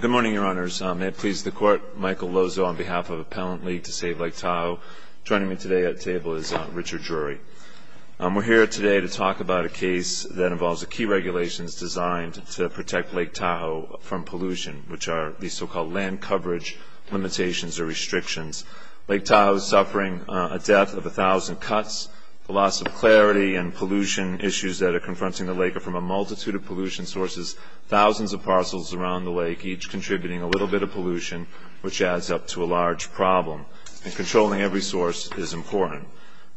Good morning, your honors. May it please the court, Michael Lozo on behalf of Appellant League to Save Lake Tahoe. Joining me today at table is Richard Drury. We're here today to talk about a case that involves a key regulations designed to protect Lake Tahoe from pollution, which are the so-called land coverage limitations or restrictions. Lake Tahoe is suffering a death of a thousand cuts, the loss of clarity and pollution issues that are confronting the lake are from a multitude of pollution sources, thousands of parcels around the lake, each contributing a little bit of pollution, which adds up to a large problem. And controlling every source is important,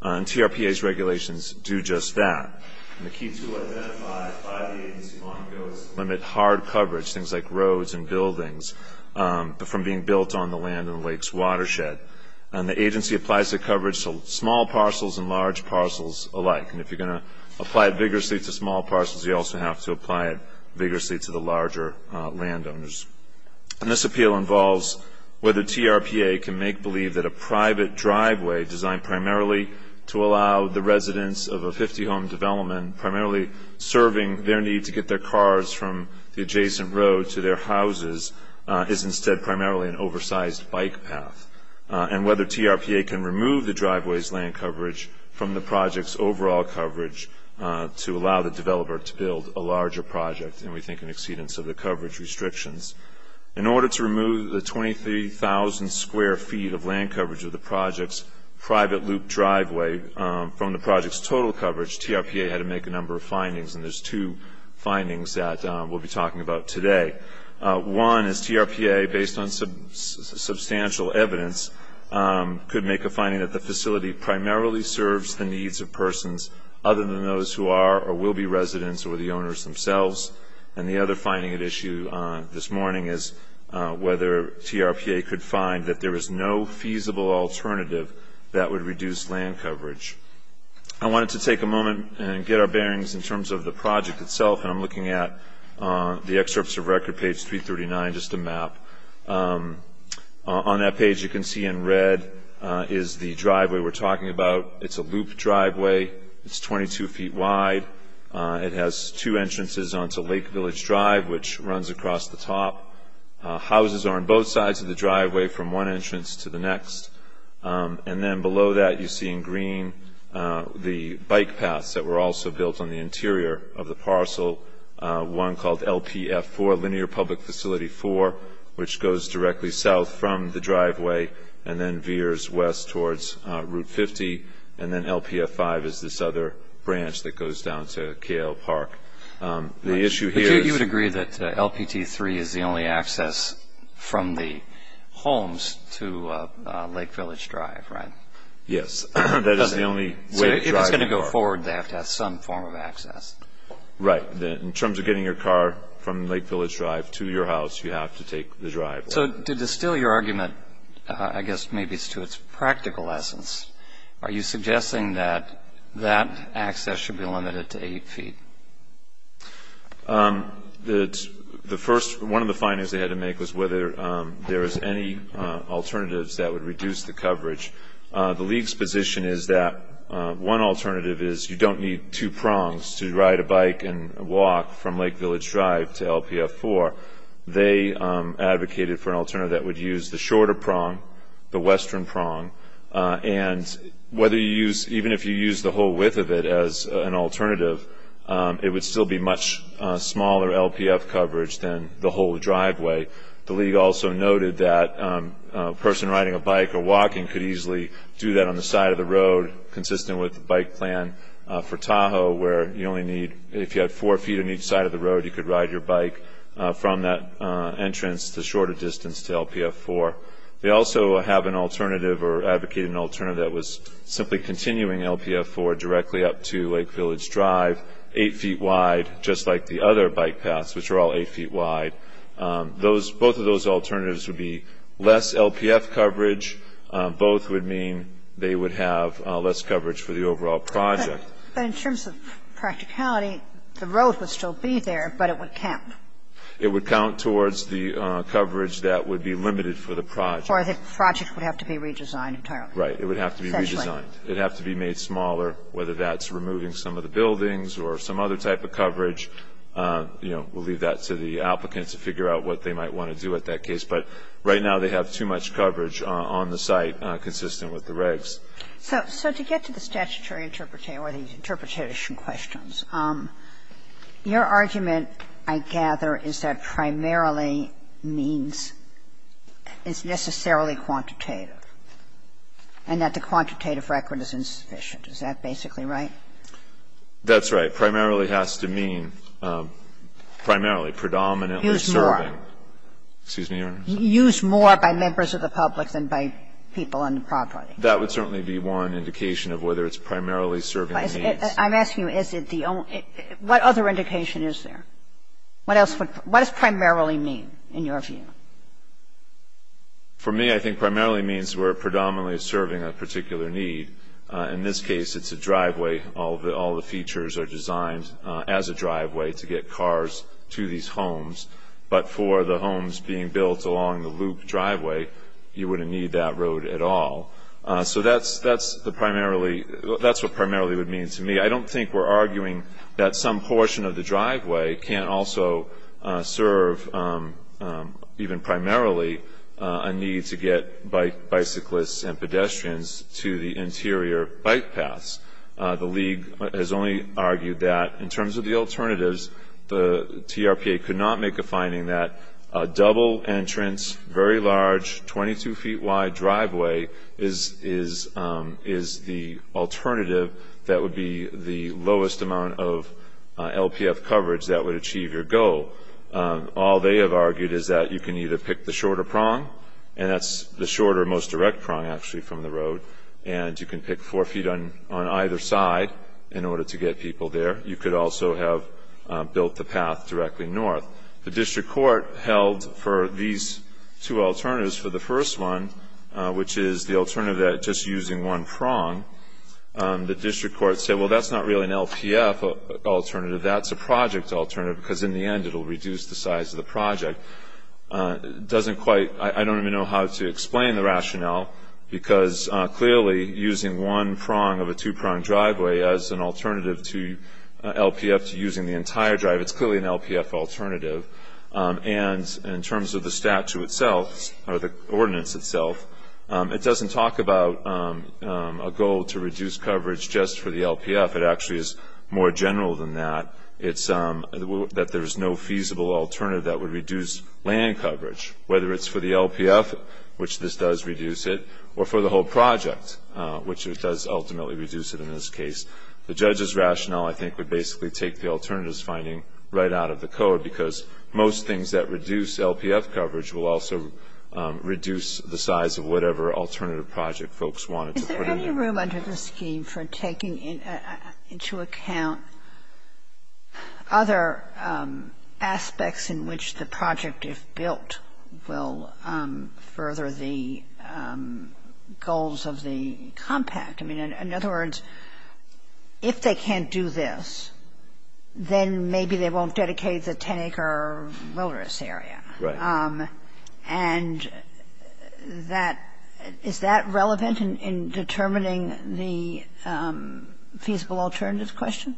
and TRPA's regulations do just that. And the key tool identified by the agency long ago is to limit hard coverage, things like roads and buildings, from being built on the land in the lake's watershed. And the agency applies the coverage to small parcels and large parcels alike. And if you're going to apply it vigorously to small parcels, you also have to apply it vigorously to the larger landowners. And this appeal involves whether TRPA can make believe that a private driveway designed primarily to allow the residents of a 50-home development, primarily serving their need to get their cars from the adjacent road to their houses, is instead primarily an oversized bike path. And whether TRPA can remove the driveway's land coverage from the project's overall coverage to allow the developer to build a larger project, and we think in exceedance of the coverage restrictions. In order to remove the 23,000 square feet of land coverage of the project's private loop driveway from the project's total coverage, TRPA had to make a number of findings, and there's two findings that we'll be talking about today. One is TRPA, based on substantial evidence, could make a finding that the facility primarily serves the needs of persons other than those who are or will be residents or the owners themselves. And the other finding at issue this morning is whether TRPA could find that there is no feasible alternative that would reduce land coverage. I wanted to take a moment and get our bearings in terms of the project itself, and I'm looking at the excerpts of record, page 339, just a map. On that page you can see in red is the driveway we're talking about. It's a loop driveway. It's 22 feet wide. It has two entrances onto Lake Village Drive, which runs across the top. Houses are on both sides of the driveway from one entrance to the next. And then below that you see in green the bike paths that were also built on the interior of the parcel, one called LPF4, Linear Public Facility 4, which goes directly south from the driveway and then veers west towards Route 50. And then LPF5 is this other branch that goes down to Cale Park. The issue here is... You would agree that LPT3 is the only access from the homes to Lake Village Drive, right? Yes, that is the only way to drive the car. So if it's going to go forward, they have to have some form of access. Right. In terms of getting your car from Lake Village Drive to your house, you have to take the driveway. So to distill your argument, I guess maybe it's to its practical essence, are you suggesting that that access should be limited to 8 feet? One of the findings they had to make was whether there is any alternatives that would reduce the coverage. The League's position is that one alternative is you don't need two prongs to ride a bike and walk from Lake Village Drive to LPF4. They advocated for an alternative that would use the shorter prong, the western prong, and even if you use the whole width of it as an alternative, it would still be much smaller LPF coverage than the whole driveway. The League also noted that a person riding a bike or walking could easily do that on the side of the road, consistent with the bike plan for Tahoe, where if you had four feet on each side of the road, you could ride your bike from that entrance the shorter distance to LPF4. They also have an alternative or advocated an alternative that was simply continuing LPF4 directly up to Lake Village Drive, 8 feet wide, just like the other bike paths, which are all 8 feet wide. Both of those alternatives would be less LPF coverage. Both would mean they would have less coverage for the overall project. But in terms of practicality, the road would still be there, but it would count. It would count towards the coverage that would be limited for the project. Or the project would have to be redesigned entirely. Right. It would have to be redesigned. Essentially. It would have to be redesigned. It would have to be made smaller, whether that's removing some of the buildings or some other type of coverage. You know, we'll leave that to the applicants to figure out what they might want to do with that case. But right now they have too much coverage on the site consistent with the regs. So to get to the statutory interpretation or the interpretation questions, your argument, I gather, is that primarily means it's necessarily quantitative, and that the quantitative record is insufficient. Is that basically right? That's right. Primarily has to mean, primarily, predominantly serving. Use more. Excuse me, Your Honor. Use more by members of the public than by people on the property. That would certainly be one indication of whether it's primarily serving the needs. I'm asking you, is it the only ñ what other indication is there? What else would ñ what does primarily mean in your view? For me, I think primarily means we're predominantly serving a particular need. In this case, it's a driveway. All the features are designed as a driveway to get cars to these homes. But for the homes being built along the loop driveway, you wouldn't need that road at all. So that's the primarily ñ that's what primarily would mean to me. I don't think we're arguing that some portion of the driveway can't also serve, even primarily, a need to get bicyclists and pedestrians to the interior bike paths. The League has only argued that, in terms of the alternatives, the TRPA could not make a finding that A double entrance, very large, 22-feet-wide driveway is the alternative that would be the lowest amount of LPF coverage that would achieve your goal. All they have argued is that you can either pick the shorter prong, and that's the shorter, most direct prong, actually, from the road, and you can pick four feet on either side in order to get people there. You could also have built the path directly north. The district court held for these two alternatives, for the first one, which is the alternative that just using one prong, the district court said, well, that's not really an LPF alternative. That's a project alternative because, in the end, it will reduce the size of the project. It doesn't quite ñ I don't even know how to explain the rationale because, clearly, using one prong of a two-prong driveway as an alternative to LPF to using the entire drive, it's clearly an LPF alternative. And in terms of the statute itself, or the ordinance itself, it doesn't talk about a goal to reduce coverage just for the LPF. It actually is more general than that. It's that there's no feasible alternative that would reduce land coverage, whether it's for the LPF, which this does reduce it, or for the whole project, which it does ultimately reduce it in this case. The judge's rationale, I think, would basically take the alternatives finding right out of the code because most things that reduce LPF coverage will also reduce the size of whatever alternative project folks wanted to put in there. Is there any room under the scheme for taking into account other aspects in which the project, if built, will further the goals of the compact? In other words, if they can't do this, then maybe they won't dedicate the 10-acre wilderness area. Right. And is that relevant in determining the feasible alternative question?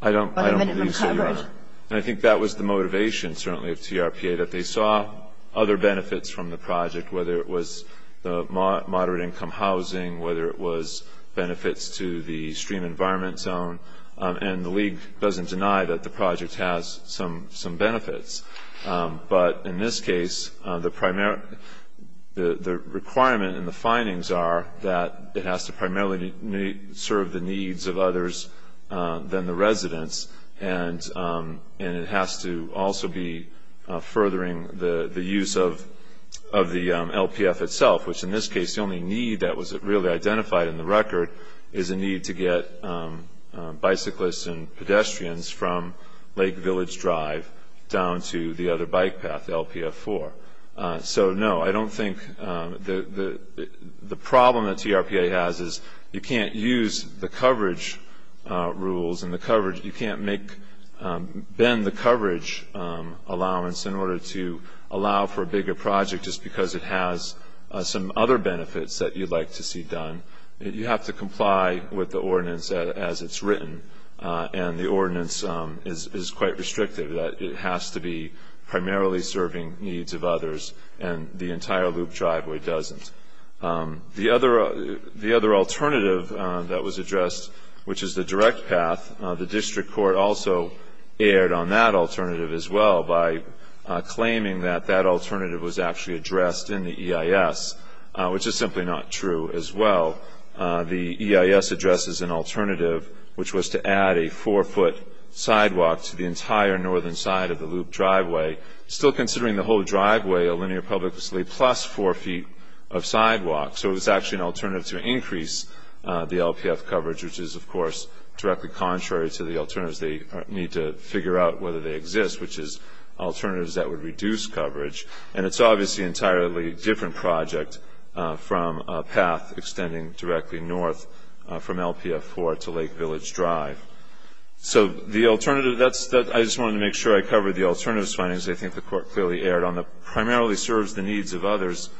I don't believe so, Your Honor. And I think that was the motivation, certainly, of TRPA, that they saw other benefits from the project, whether it was the moderate-income housing, whether it was benefits to the stream environment zone. And the league doesn't deny that the project has some benefits. But in this case, the requirement and the findings are that it has to primarily serve the needs of others than the residents, and it has to also be furthering the use of the LPF itself, which in this case the only need that was really identified in the record is a need to get bicyclists and pedestrians from Lake Village Drive down to the other bike path, LPF 4. So, no, I don't think the problem that TRPA has is you can't use the coverage rules and you can't bend the coverage allowance in order to allow for a bigger project just because it has some other benefits that you'd like to see done. You have to comply with the ordinance as it's written, and the ordinance is quite restrictive, that it has to be primarily serving needs of others, and the entire Loop Driveway doesn't. The other alternative that was addressed, which is the direct path, the district court also erred on that alternative as well by claiming that that alternative was actually addressed in the EIS, which is simply not true as well. The EIS addresses an alternative, which was to add a 4-foot sidewalk to the entire northern side of the Loop Driveway, still considering the whole driveway a linear public facility plus 4 feet of sidewalk. So it was actually an alternative to increase the LPF coverage, which is, of course, directly contrary to the alternatives. They need to figure out whether they exist, which is alternatives that would reduce coverage, and it's obviously an entirely different project from a path extending directly north from LPF 4 to Lake Village Drive. So I just wanted to make sure I covered the alternatives findings. I think the court clearly erred on the primarily serves the needs of others.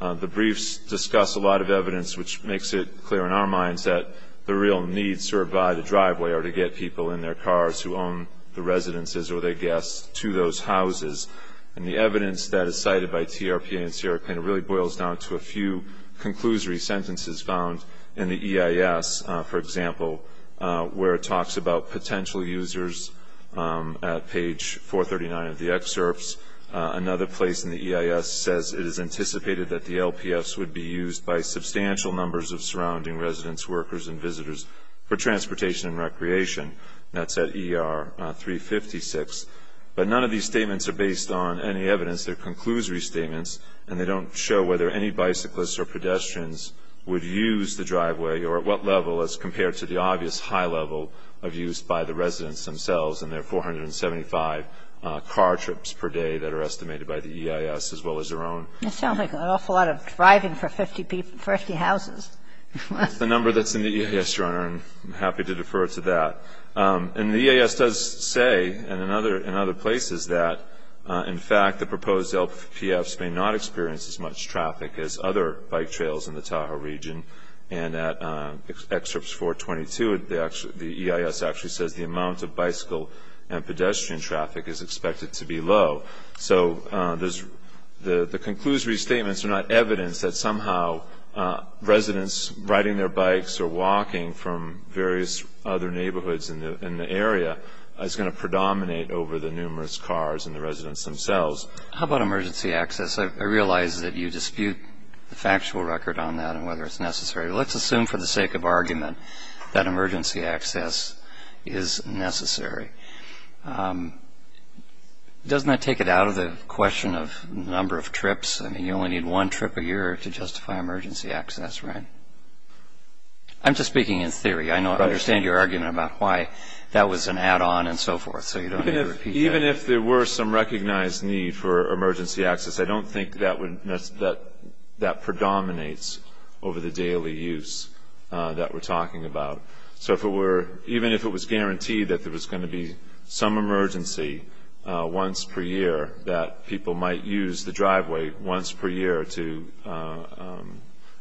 The briefs discuss a lot of evidence, which makes it clear in our minds that the real needs served by the driveway are to get people in their cars who own the residences or their guests to those houses, and the evidence that is cited by TRPA and CRPAN really boils down to a few conclusory sentences found in the EIS, for example, where it talks about potential users at page 439 of the excerpts. Another place in the EIS says it is anticipated that the LPFs would be used by substantial numbers of surrounding residents, workers, and visitors for transportation and recreation. That's at ER 356. But none of these statements are based on any evidence. They're conclusory statements, and they don't show whether any bicyclists or pedestrians would use the driveway or at what level as compared to the obvious high level of use by the residents themselves and their 475 car trips per day that are estimated by the EIS as well as their own. That sounds like an awful lot of driving for 50 houses. That's the number that's in the EIS, Your Honor, and I'm happy to defer to that. And the EIS does say in other places that, in fact, the proposed LPFs may not experience as much traffic as other bike trails in the Tahoe region. And at excerpts 422, the EIS actually says the amount of bicycle and pedestrian traffic is expected to be low. So the conclusory statements are not evidence that somehow residents riding their bikes or walking from various other neighborhoods in the area is going to predominate over the numerous cars and the residents themselves. How about emergency access? I realize that you dispute the factual record on that and whether it's necessary. Let's assume for the sake of argument that emergency access is necessary. Doesn't that take it out of the question of number of trips? I mean, you only need one trip a year to justify emergency access, right? I'm just speaking in theory. I understand your argument about why that was an add-on and so forth, so you don't need to repeat that. Even if there were some recognized need for emergency access, I don't think that that predominates over the daily use that we're talking about. So even if it was guaranteed that there was going to be some emergency once per year, that people might use the driveway once per year to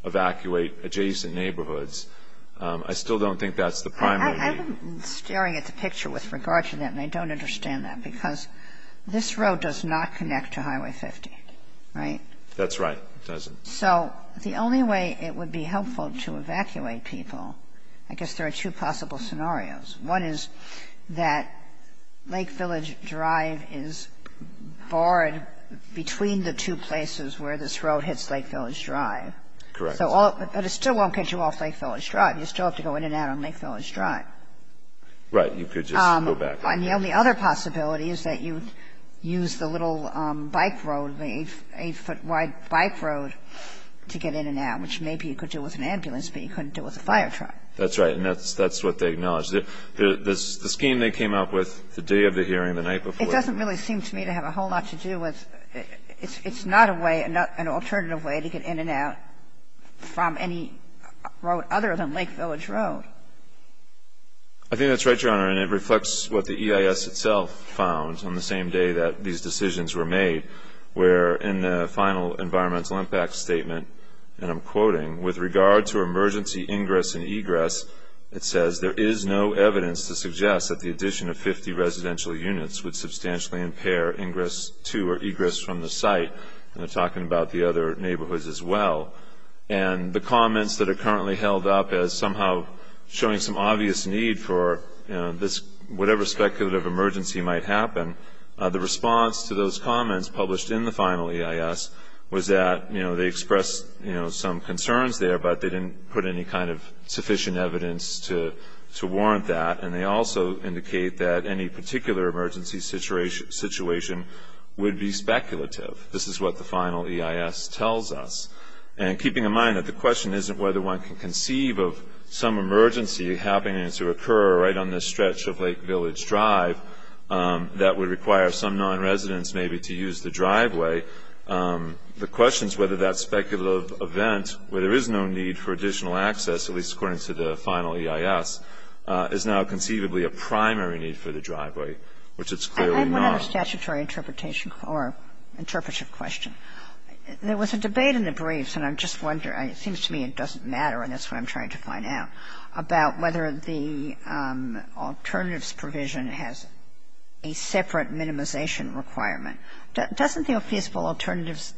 evacuate adjacent neighborhoods, I still don't think that's the primary need. I'm staring at the picture with regard to that, and I don't understand that, because this road does not connect to Highway 50, right? That's right. It doesn't. So the only way it would be helpful to evacuate people, I guess there are two possible scenarios. One is that Lake Village Drive is barred between the two places where this road hits Lake Village Drive. Correct. But it still won't get you off Lake Village Drive. You still have to go in and out on Lake Village Drive. Right. You could just go back. And the only other possibility is that you use the little bike road, the 8-foot-wide bike road, to get in and out, which maybe you could do with an ambulance, but you couldn't do with a fire truck. That's right. And that's what they acknowledge. The scheme they came up with the day of the hearing, the night before. It doesn't really seem to me to have a whole lot to do with – it's not a way, an alternative way to get in and out from any road other than Lake Village Road. I think that's right, Your Honor. And it reflects what the EIS itself found on the same day that these decisions were made, where in the final environmental impact statement, and I'm quoting, with regard to emergency ingress and egress, it says, there is no evidence to suggest that the addition of 50 residential units would substantially impair ingress to or egress from the site. And they're talking about the other neighborhoods as well. And the comments that are currently held up as somehow showing some obvious need for whatever speculative emergency might happen, the response to those comments published in the final EIS was that they expressed some concerns there, but they didn't put any kind of sufficient evidence to warrant that. And they also indicate that any particular emergency situation would be speculative. This is what the final EIS tells us. And keeping in mind that the question isn't whether one can conceive of some emergency happening to occur right on this stretch of Lake Village Drive that would require some non-residents maybe to use the driveway, the question is whether that speculative event where there is no need for additional access, at least according to the final EIS, is now conceivably a primary need for the driveway, which it's clearly not. It's not a statutory interpretation or interpretive question. There was a debate in the briefs, and I'm just wondering, it seems to me it doesn't matter, and that's what I'm trying to find out, about whether the alternatives provision has a separate minimization requirement. Doesn't the feasible alternatives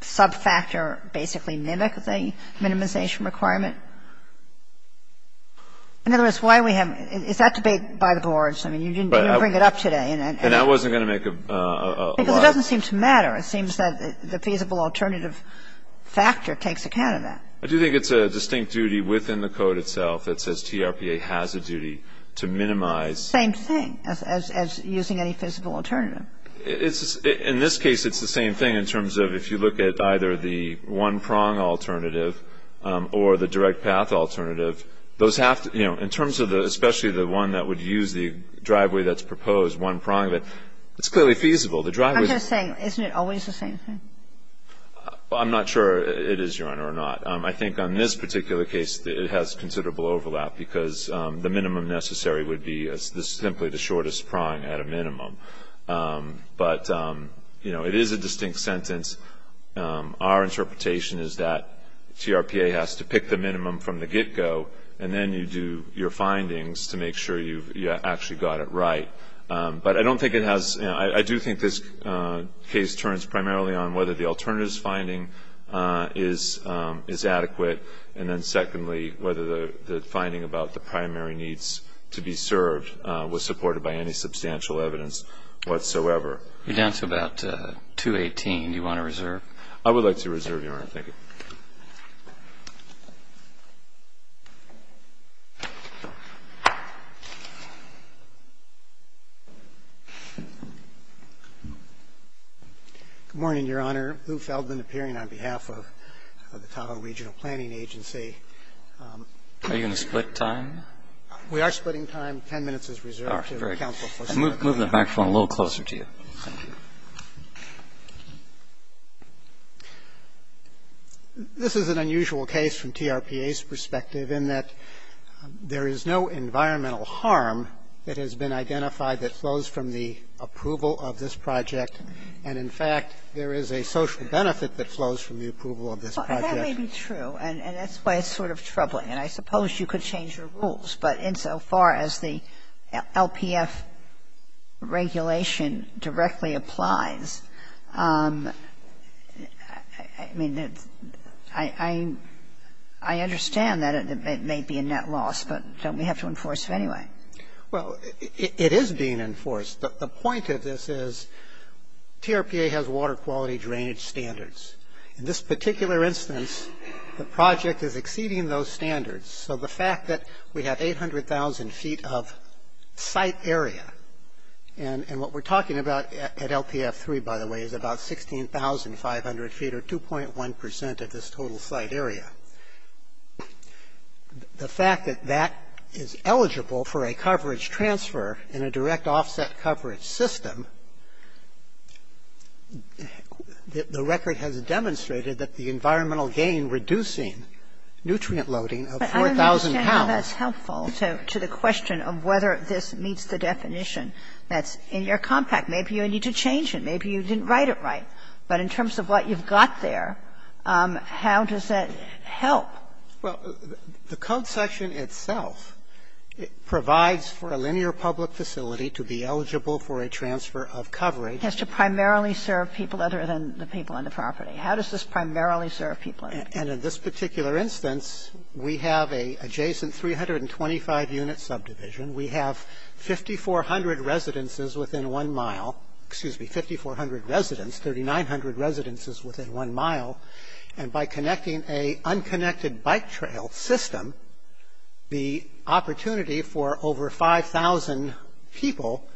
sub-factor basically mimic the minimization requirement? In other words, why do we have to do that? Is that debate by the boards? I mean, you didn't even bring it up today. And that wasn't going to make a lot of sense. Because it doesn't seem to matter. It seems that the feasible alternative factor takes account of that. I do think it's a distinct duty within the code itself that says TRPA has a duty to minimize. Same thing as using any feasible alternative. In this case, it's the same thing in terms of if you look at either the one-prong alternative or the direct path alternative, those have to, you know, in terms of the, especially the one that would use the driveway that's proposed, one-prong, it's clearly feasible. I'm just saying, isn't it always the same thing? I'm not sure it is, Your Honor, or not. I think on this particular case, it has considerable overlap because the minimum necessary would be simply the shortest prong at a minimum. But, you know, it is a distinct sentence. Our interpretation is that TRPA has to pick the minimum from the get-go, and then you do your findings to make sure you've actually got it right. But I don't think it has, you know, I do think this case turns primarily on whether the alternatives finding is adequate, and then secondly whether the finding about the primary needs to be served was supported by any substantial evidence whatsoever. You're down to about 2.18. Do you want to reserve? I would like to reserve, Your Honor. Thank you. Good morning, Your Honor. Lou Feldman appearing on behalf of the Tahoe Regional Planning Agency. Are you going to split time? We are splitting time. Ten minutes is reserved. All right, great. Thank you, counsel. I'll move the microphone a little closer to you. Thank you. This is an unusual case from TRPA's perspective in that there is no environmental harm that has been identified that flows from the approval of this project. And, in fact, there is a social benefit that flows from the approval of this project. That may be true, and that's why it's sort of troubling. And I suppose you could change your rules, but insofar as the LPF regulation directly applies, I mean, I understand that it may be a net loss, but don't we have to enforce it anyway? Well, it is being enforced. The point of this is TRPA has water quality drainage standards. In this particular instance, the project is exceeding those standards. So the fact that we have 800,000 feet of site area, and what we're talking about at LPF-3, by the way, is about 16,500 feet or 2.1% of this total site area. The fact that that is eligible for a coverage transfer in a direct offset coverage system, the record has demonstrated that the environmental gain reducing nutrient loading of 4,000 pounds But I don't understand how that's helpful to the question of whether this meets the definition that's in your compact. Maybe you need to change it. Maybe you didn't write it right. But in terms of what you've got there, how does that help? Well, the code section itself provides for a linear public facility to be eligible for a transfer of coverage. It has to primarily serve people other than the people on the property. How does this primarily serve people? And in this particular instance, we have an adjacent 325-unit subdivision. We have 5,400 residences within one mile. Excuse me, 5,400 residents, 3,900 residences within one mile. And by connecting a unconnected bike trail system, the opportunity for over 5,000 people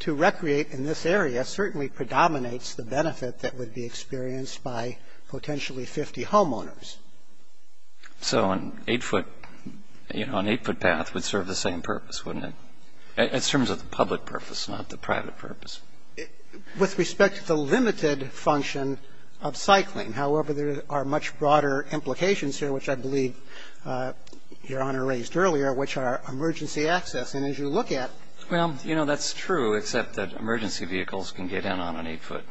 to recreate in this area certainly predominates the benefit that would be experienced by potentially 50 homeowners. So an eight-foot path would serve the same purpose, wouldn't it? In terms of the public purpose, not the private purpose. With respect to the limited function of cycling. However, there are much broader implications here, which I believe Your Honor raised earlier, which are emergency access. And as you look at- Well, you know, that's true, except that emergency vehicles can get in on an eight-foot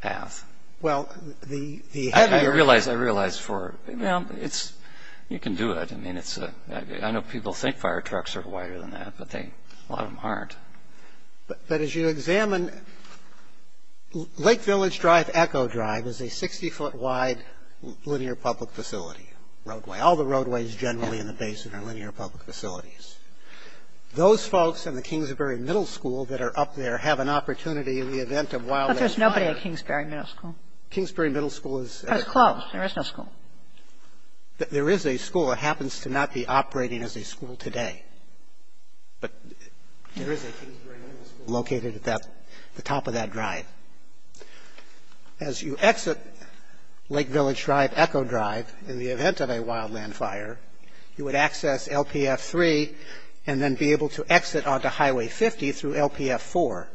path. Well, the heavier- I realize for, you know, it's, you can do it. I mean, I know people think fire trucks are wider than that, but a lot of them aren't. But as you examine Lake Village Drive Echo Drive is a 60-foot wide linear public facility roadway. All the roadways generally in the basin are linear public facilities. Those folks in the Kingsbury Middle School that are up there have an opportunity in the event of wildfire- But there's nobody at Kingsbury Middle School. Kingsbury Middle School is- It's closed. There is no school. There is a school. It happens to not be operating as a school today. But there is a Kingsbury Middle School located at the top of that drive. As you exit Lake Village Drive Echo Drive in the event of a wildland fire, you would access LPF 3 and then be able to exit onto Highway 50 through LPF 4.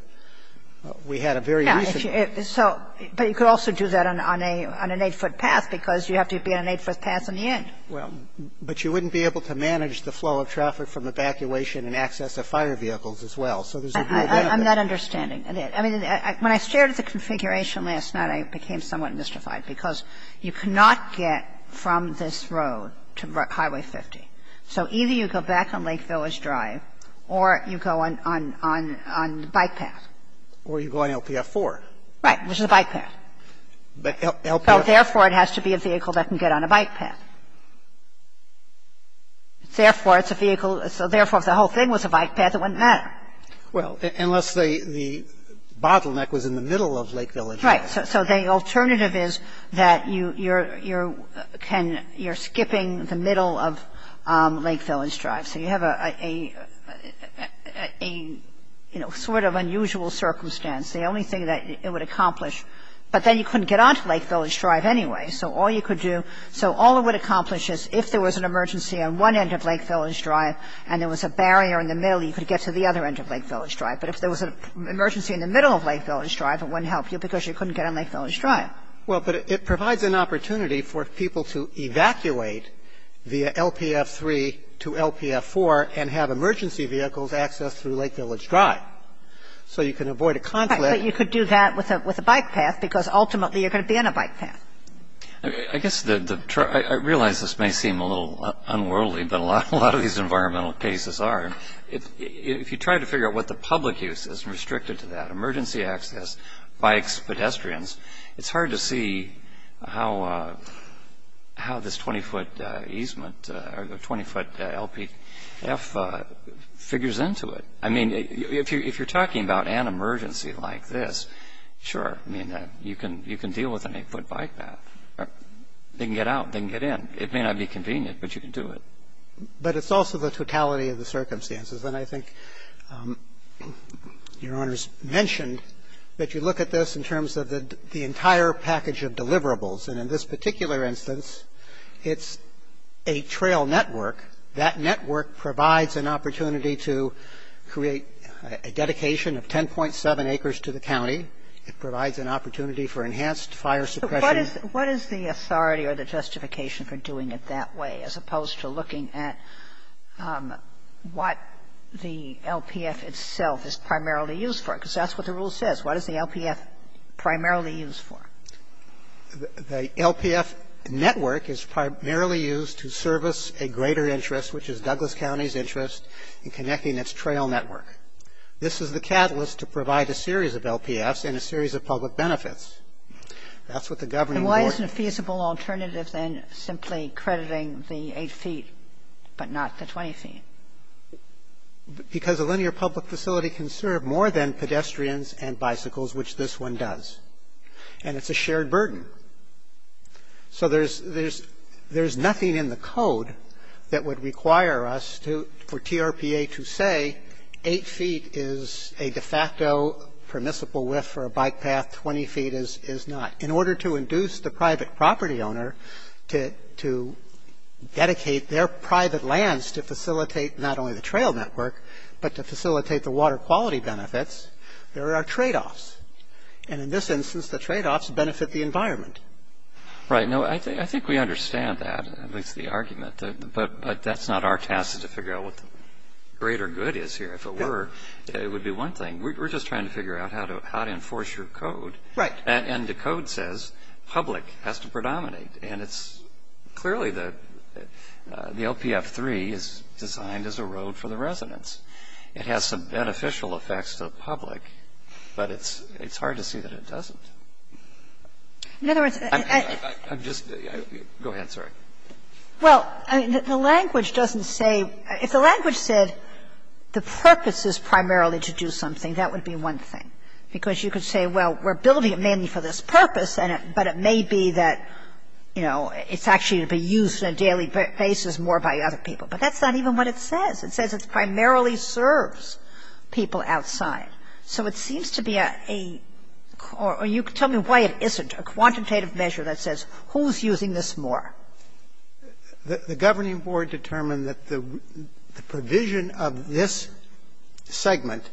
We had a very recent- Yeah. So, but you could also do that on an eight-foot path because you have to be on an eight-foot path on the end. Well, but you wouldn't be able to manage the flow of traffic from evacuation and access of fire vehicles as well. So there's no benefit. I'm not understanding. I mean, when I started the configuration last night, I became somewhat mystified because you cannot get from this road to Highway 50. So either you go back on Lake Village Drive or you go on the bike path. Or you go on LPF 4. Right, which is a bike path. But LPF- So therefore, it has to be a vehicle that can get on a bike path. Therefore, it's a vehicle. So therefore, if the whole thing was a bike path, it wouldn't matter. Well, unless the bottleneck was in the middle of Lake Village Drive. Right. So the alternative is that you're skipping the middle of Lake Village Drive. So you have a, you know, sort of unusual circumstance. The only thing that it would accomplish. But then you couldn't get onto Lake Village Drive anyway. So all you could do, so all it would accomplish is if there was an emergency on one end of Lake Village Drive and there was a barrier in the middle, you could get to the other end of Lake Village Drive. But if there was an emergency in the middle of Lake Village Drive, it wouldn't help you because you couldn't get on Lake Village Drive. Well, but it provides an opportunity for people to evacuate via LPF 3 to LPF 4 and have emergency vehicles accessed through Lake Village Drive. So you can avoid a conflict. Right. But you could do that with a bike path because ultimately you're going to be on a bike path. I guess the, I realize this may seem a little unworldly, but a lot of these environmental cases are. If you try to figure out what the public use is restricted to that, emergency access, bikes, pedestrians, it's hard to see how this 20-foot easement or the 20-foot LPF figures into it. I mean, if you're talking about an emergency like this, sure, I mean, you can deal with an 8-foot bike path. They can get out. They can get in. It may not be convenient, but you can do it. But it's also the totality of the circumstances. And I think Your Honors mentioned that you look at this in terms of the entire package of deliverables. And in this particular instance, it's a trail network. That network provides an opportunity to create a dedication of 10.7 acres to the county. It provides an opportunity for enhanced fire suppression. But what is the authority or the justification for doing it that way, as opposed to looking at what the LPF itself is primarily used for? Because that's what the rule says. What is the LPF primarily used for? The LPF network is primarily used to service a greater interest, which is Douglas County's interest in connecting its trail network. This is the catalyst to provide a series of LPFs and a series of public benefits. That's what the governing board ---- Kagan. And why isn't a feasible alternative then simply crediting the 8 feet but not the 20 feet? Because a linear public facility can serve more than pedestrians and bicycles, which this one does. And it's a shared burden. So there's nothing in the code that would require us for TRPA to say 8 feet is a de facto permissible width for a bike path, 20 feet is not. In order to induce the private property owner to dedicate their private lands to facilitate not only the trail network, but to facilitate the water quality benefits, there are tradeoffs. And in this instance, the tradeoffs benefit the environment. Right. No, I think we understand that, at least the argument. But that's not our task is to figure out what the greater good is here. If it were, it would be one thing. We're just trying to figure out how to enforce your code. Right. And the code says public has to predominate. And it's clearly the LPF3 is designed as a road for the residents. It has some beneficial effects to the public, but it's hard to see that it doesn't. In other words, I'm just go ahead, sorry. Well, I mean, the language doesn't say – if the language said the purpose is primarily to do something, that would be one thing. Because you could say, well, we're building it mainly for this purpose, but it may be that, you know, it's actually to be used on a daily basis more by other people. But that's not even what it says. It says it primarily serves people outside. So it seems to be a – or you could tell me why it isn't a quantitative measure that says who's using this more. The governing board determined that the provision of this segment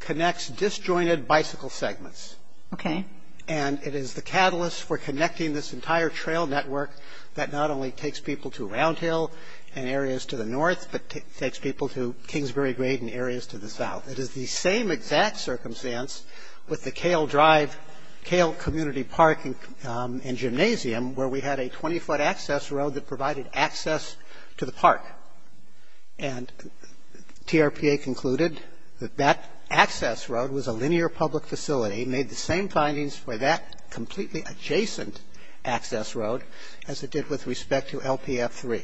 connects disjointed bicycle segments. Okay. And it is the catalyst for connecting this entire trail network that not only takes people to Round Hill and areas to the north, but takes people to Kingsbury Grade and areas to the south. It is the same exact circumstance with the Kale Drive – Kale Community Park and gymnasium where we had a 20-foot access road that provided access to the park. And TRPA concluded that that access road was a linear public facility, made the same findings for that completely adjacent access road as it did with respect to LPF3.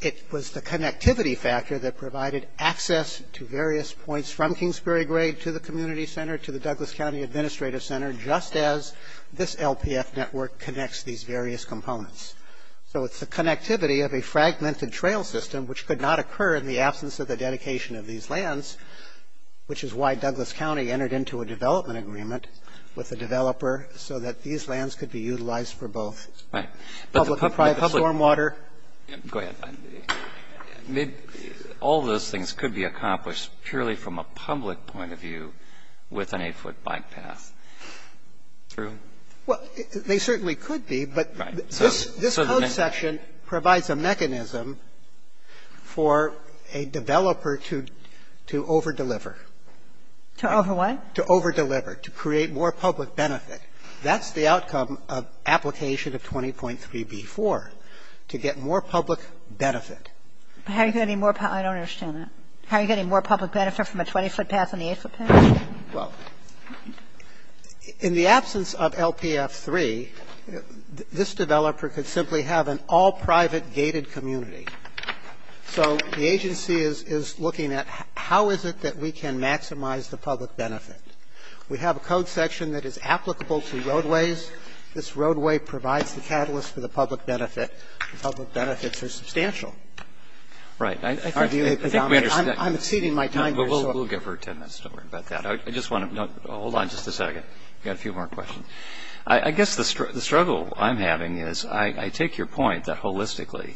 It was the connectivity factor that provided access to various points from Kingsbury Grade to the community center, to the Douglas County Administrative Center, just as this LPF network connects these various components. So it's the connectivity of a fragmented trail system, which could not occur in the absence of the dedication of these lands, which is why Douglas County entered into a development agreement with the developer so that these lands could be utilized for both public and private stormwater. Right. But the public facility – go ahead. All those things could be accomplished purely from a public point of view with an 8-foot bike path. True? Well, they certainly could be, but this code section provides a mechanism for a developer to over-deliver. To over-what? To over-deliver, to create more public benefit. That's the outcome of application of 20.3b4, to get more public benefit. But how are you getting more – I don't understand that. How are you getting more public benefit from a 20-foot path and the 8-foot path? Well, in the absence of LPF3, this developer could simply have an all-private gated community. So the agency is looking at how is it that we can maximize the public benefit. We have a code section that is applicable to roadways. This roadway provides the catalyst for the public benefit. The public benefits are substantial. Right. I think we understand. I'm exceeding my time here. We'll give her 10 minutes. Don't worry about that. I just want to – hold on just a second. We've got a few more questions. I guess the struggle I'm having is I take your point that holistically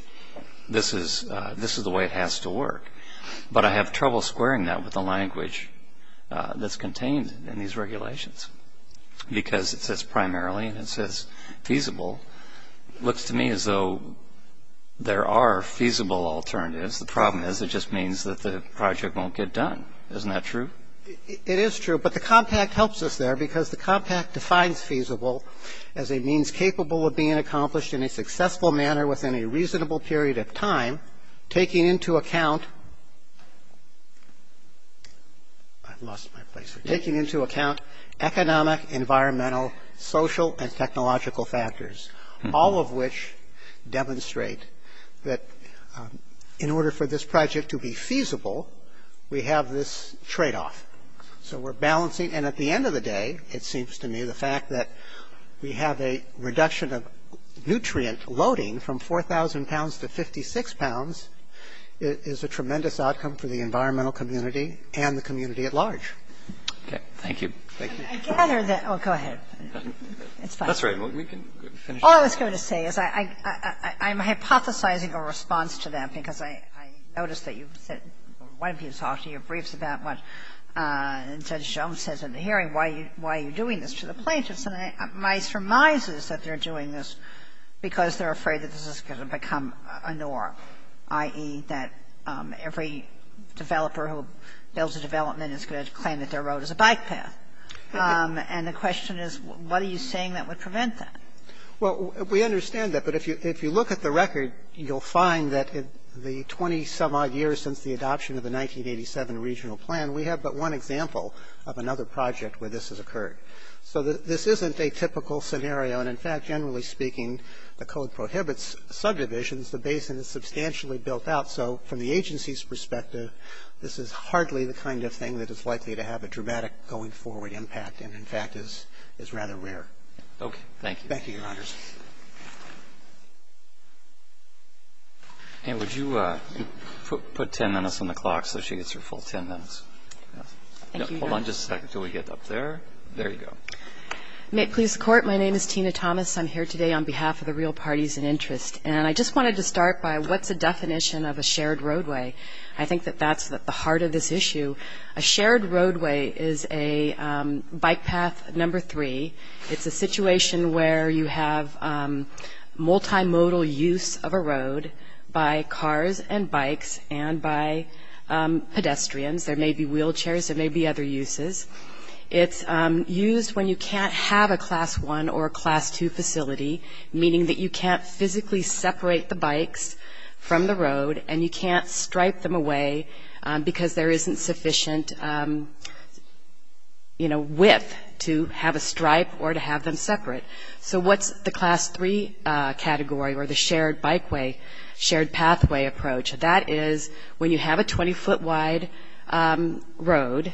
this is the way it has to work. But I have trouble squaring that with the language that's contained in these regulations because it says primarily and it says feasible. It looks to me as though there are feasible alternatives. The problem is it just means that the project won't get done. Isn't that true? It is true. But the compact helps us there because the compact defines feasible as a means capable of being accomplished in a successful manner within a reasonable period of time, taking into account economic, environmental, social, and technological factors, all of which demonstrate that in order for this project to be feasible, we have this tradeoff. So we're balancing. And at the end of the day, it seems to me the fact that we have a reduction of nutrient loading from 4,000 pounds to 56 pounds is a tremendous outcome for the environmental community and the community at large. Okay. Thank you. Thank you. I gather that – oh, go ahead. It's fine. That's all right. We can finish. All I was going to say is I'm hypothesizing a response to that because I noticed that you've said or one of you talked in your briefs about what Judge Jones says in the hearing, why are you doing this to the plaintiffs? And my surmise is that they're doing this because they're afraid that this is going to become a norm, i.e., that every developer who builds a development is going to claim that their road is a bike path. And the question is, what are you saying that would prevent that? Well, we understand that. But if you look at the record, you'll find that in the 20-some-odd years since the adoption of the 1987 regional plan, we have but one example of another project where this has occurred. So this isn't a typical scenario. And, in fact, generally speaking, the code prohibits subdivisions. The basin is substantially built out. So from the agency's perspective, this is hardly the kind of thing that is likely to have a dramatic going-forward impact and, in fact, is rather rare. Okay. Thank you, Your Honor. And would you put 10 minutes on the clock so she gets her full 10 minutes? Thank you, Your Honor. Hold on just a second until we get up there. There you go. May it please the Court. My name is Tina Thomas. I'm here today on behalf of the real parties in interest. And I just wanted to start by what's a definition of a shared roadway. I think that that's at the heart of this issue. A shared roadway is a bike path number three. It's a situation where you have multimodal use of a road by cars and bikes and by pedestrians. There may be wheelchairs. There may be other uses. It's used when you can't have a Class I or a Class II facility, meaning that you can't physically separate the bikes from the road and you can't stripe them away because there isn't sufficient, you know, width to have a stripe or to have them separate. So what's the Class III category or the shared bikeway, shared pathway approach? That is when you have a 20-foot wide road,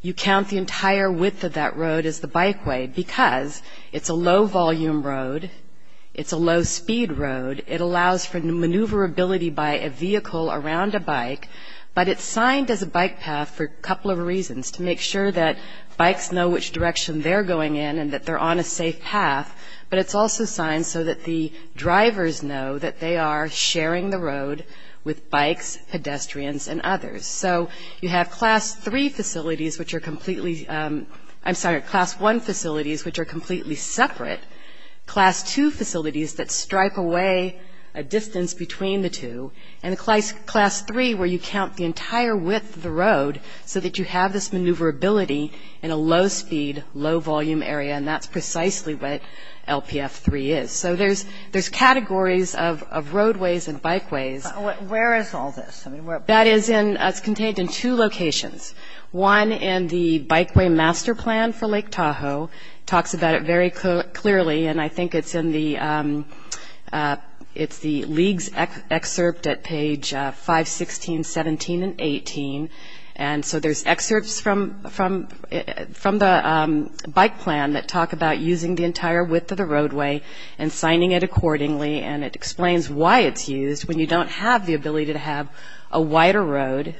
you count the entire width of that road as the bikeway because it's a low-volume road. It's a low-speed road. But it's signed as a bike path for a couple of reasons, to make sure that bikes know which direction they're going in and that they're on a safe path. But it's also signed so that the drivers know that they are sharing the road with bikes, pedestrians, and others. So you have Class I facilities, which are completely separate, Class II facilities that stripe away a distance between the two, and Class III, where you count the entire width of the road so that you have this maneuverability in a low-speed, low-volume area, and that's precisely what LPF III is. So there's categories of roadways and bikeways. Where is all this? That is in – it's contained in two locations. One in the Bikeway Master Plan for Lake Tahoe talks about it very clearly, and I think it's in the – it's the League's excerpt at page 516, 17, and 18. And so there's excerpts from the bike plan that talk about using the entire width of the roadway and signing it accordingly, and it explains why it's used when you don't have the ability to have a wider road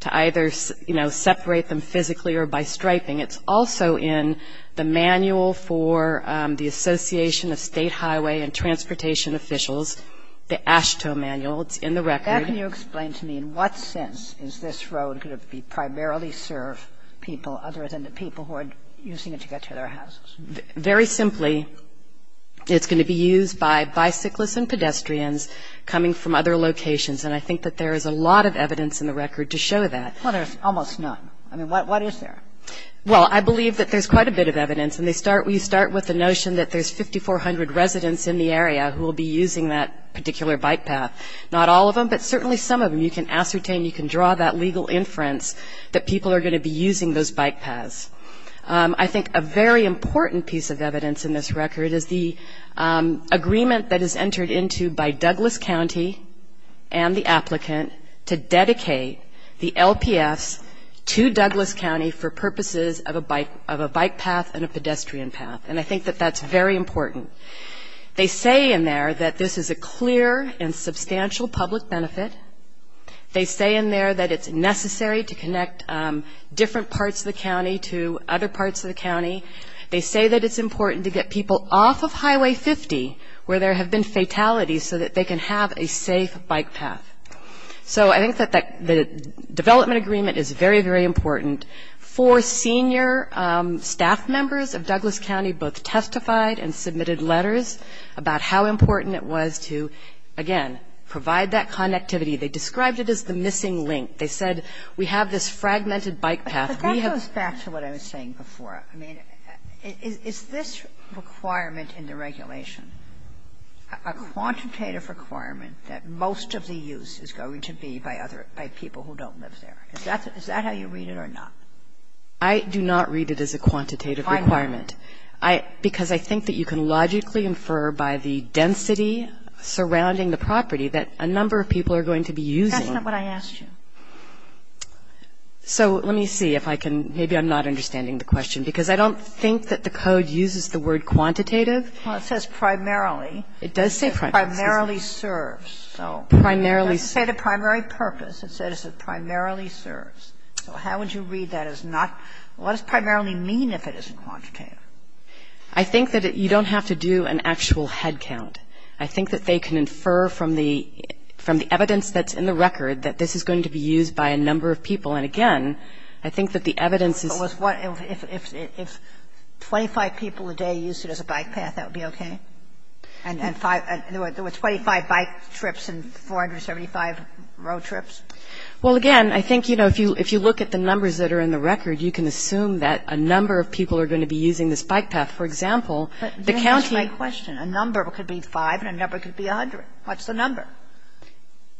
to either, you know, separate them physically or by striping. It's also in the manual for the Association of State Highway and Transportation Officials, the AASHTO manual. It's in the record. Can you explain to me in what sense is this road going to primarily serve people other than the people who are using it to get to their houses? Very simply, it's going to be used by bicyclists and pedestrians coming from other locations, and I think that there is a lot of evidence in the record to show that. Well, there's almost none. I mean, what is there? Well, I believe that there's quite a bit of evidence, and we start with the notion that there's 5,400 residents in the area who will be using that particular bike path. Not all of them, but certainly some of them. You can ascertain, you can draw that legal inference that people are going to be using those bike paths. I think a very important piece of evidence in this record is the agreement that is entered into by Douglas County and the applicant to dedicate the LPFs to Douglas County for purposes of a bike path and a pedestrian path, and I think that that's very important. They say in there that this is a clear and substantial public benefit. They say in there that it's necessary to connect different parts of the county to other parts of the county. They say that it's important to get people off of Highway 50 where there have been fatalities so that they can have a safe bike path. So I think that the development agreement is very, very important. Four senior staff members of Douglas County both testified and submitted letters about how important it was to, again, provide that connectivity. They described it as the missing link. They said we have this fragmented bike path. But that goes back to what I was saying before. I mean, is this requirement in the regulation a quantitative requirement that most of the use is going to be by other – by people who don't live there? Is that how you read it or not? I do not read it as a quantitative requirement. Why not? Because I think that you can logically infer by the density surrounding the property that a number of people are going to be using. That's not what I asked you. So let me see if I can – maybe I'm not understanding the question, because I don't think that the code uses the word quantitative. Well, it says primarily. It does say primarily. It primarily serves. Primarily. It doesn't say the primary purpose. It says it primarily serves. So how would you read that as not – what does primarily mean if it isn't quantitative? I think that you don't have to do an actual head count. I think that they can infer from the evidence that's in the record that this is going to be used by a number of people. And, again, I think that the evidence is – If 25 people a day used it as a bike path, that would be okay? With 25 bike trips and 475 road trips? Well, again, I think, you know, if you look at the numbers that are in the record, you can assume that a number of people are going to be using this bike path. For example, the county – What's the number?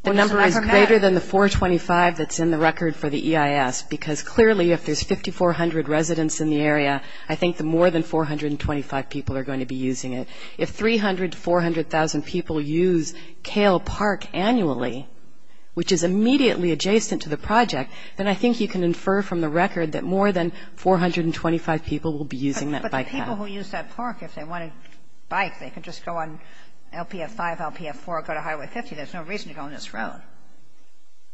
The number is greater than the 425 that's in the record for the EIS because clearly if there's 5,400 residents in the area, I think the more than 425 people are going to be using it. If 300,000 to 400,000 people use Kale Park annually, which is immediately adjacent to the project, then I think you can infer from the record that more than 425 people will be using that bike path. But the people who use that park, if they want a bike, they can just go on LPF-5, LPF-4, go to Highway 50. There's no reason to go on this road.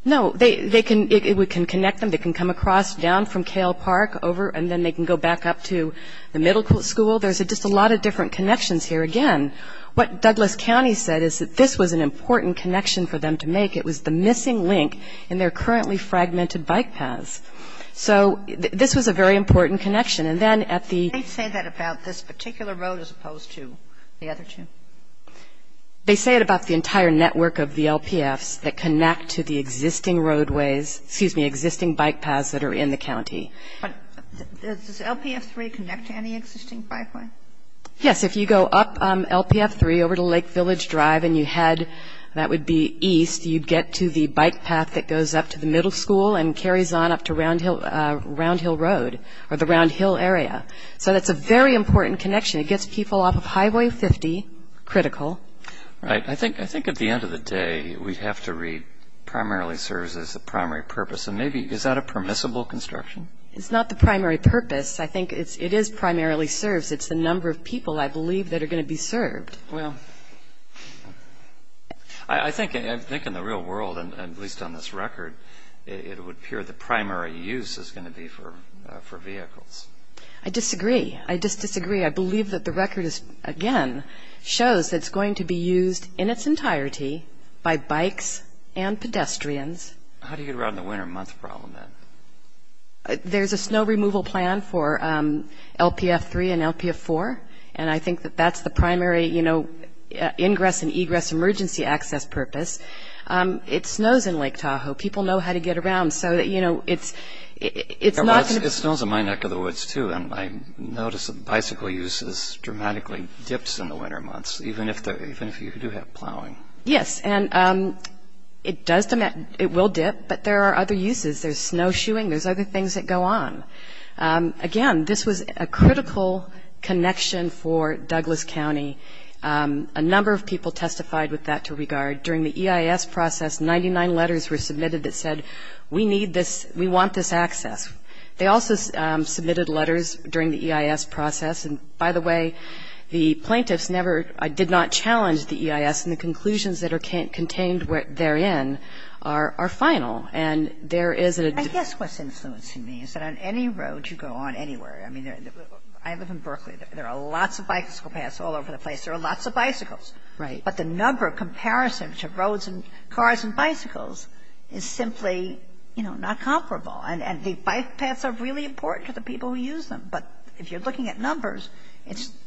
No. They can – we can connect them. They can come across down from Kale Park over, and then they can go back up to the middle school. There's just a lot of different connections here. Again, what Douglas County said is that this was an important connection for them to make. It was the missing link in their currently fragmented bike paths. So this was a very important connection. They say that about this particular road as opposed to the other two. They say it about the entire network of the LPFs that connect to the existing roadways – excuse me, existing bike paths that are in the county. But does LPF-3 connect to any existing bikeway? Yes. If you go up LPF-3 over to Lake Village Drive and you head – that would be east, you'd get to the bike path that goes up to the middle school and carries on up to Round Hill Road or the Round Hill area. So that's a very important connection. It gets people off of Highway 50 – critical. Right. I think at the end of the day we have to read primarily serves as the primary purpose. And maybe – is that a permissible construction? It's not the primary purpose. I think it is primarily serves. It's the number of people, I believe, that are going to be served. Well, I think in the real world, at least on this record, it would appear the primary use is going to be for vehicles. I disagree. I just disagree. I believe that the record is, again, shows that it's going to be used in its entirety by bikes and pedestrians. How do you get around the winter month problem then? There's a snow removal plan for LPF-3 and LPF-4, and I think that that's the primary, you know, ingress and egress emergency access purpose. It snows in Lake Tahoe. People know how to get around. So, you know, it's not going to be – It snows in my neck of the woods, too, and I notice that the bicycle use dramatically dips in the winter months, even if you do have plowing. Yes, and it does – it will dip, but there are other uses. There's snowshoeing. There's other things that go on. Again, this was a critical connection for Douglas County. A number of people testified with that to regard. During the EIS process, 99 letters were submitted that said, we need this – we want this access. They also submitted letters during the EIS process. And, by the way, the plaintiffs never – did not challenge the EIS, and the conclusions that are contained therein are final. And there is a – I guess what's influencing me is that on any road you go on anywhere – I mean, I live in Berkeley. There are lots of bicycle paths all over the place. There are lots of bicycles. Right. But the number of comparisons of roads and cars and bicycles is simply, you know, not comparable. And the bike paths are really important to the people who use them. But if you're looking at numbers, it's –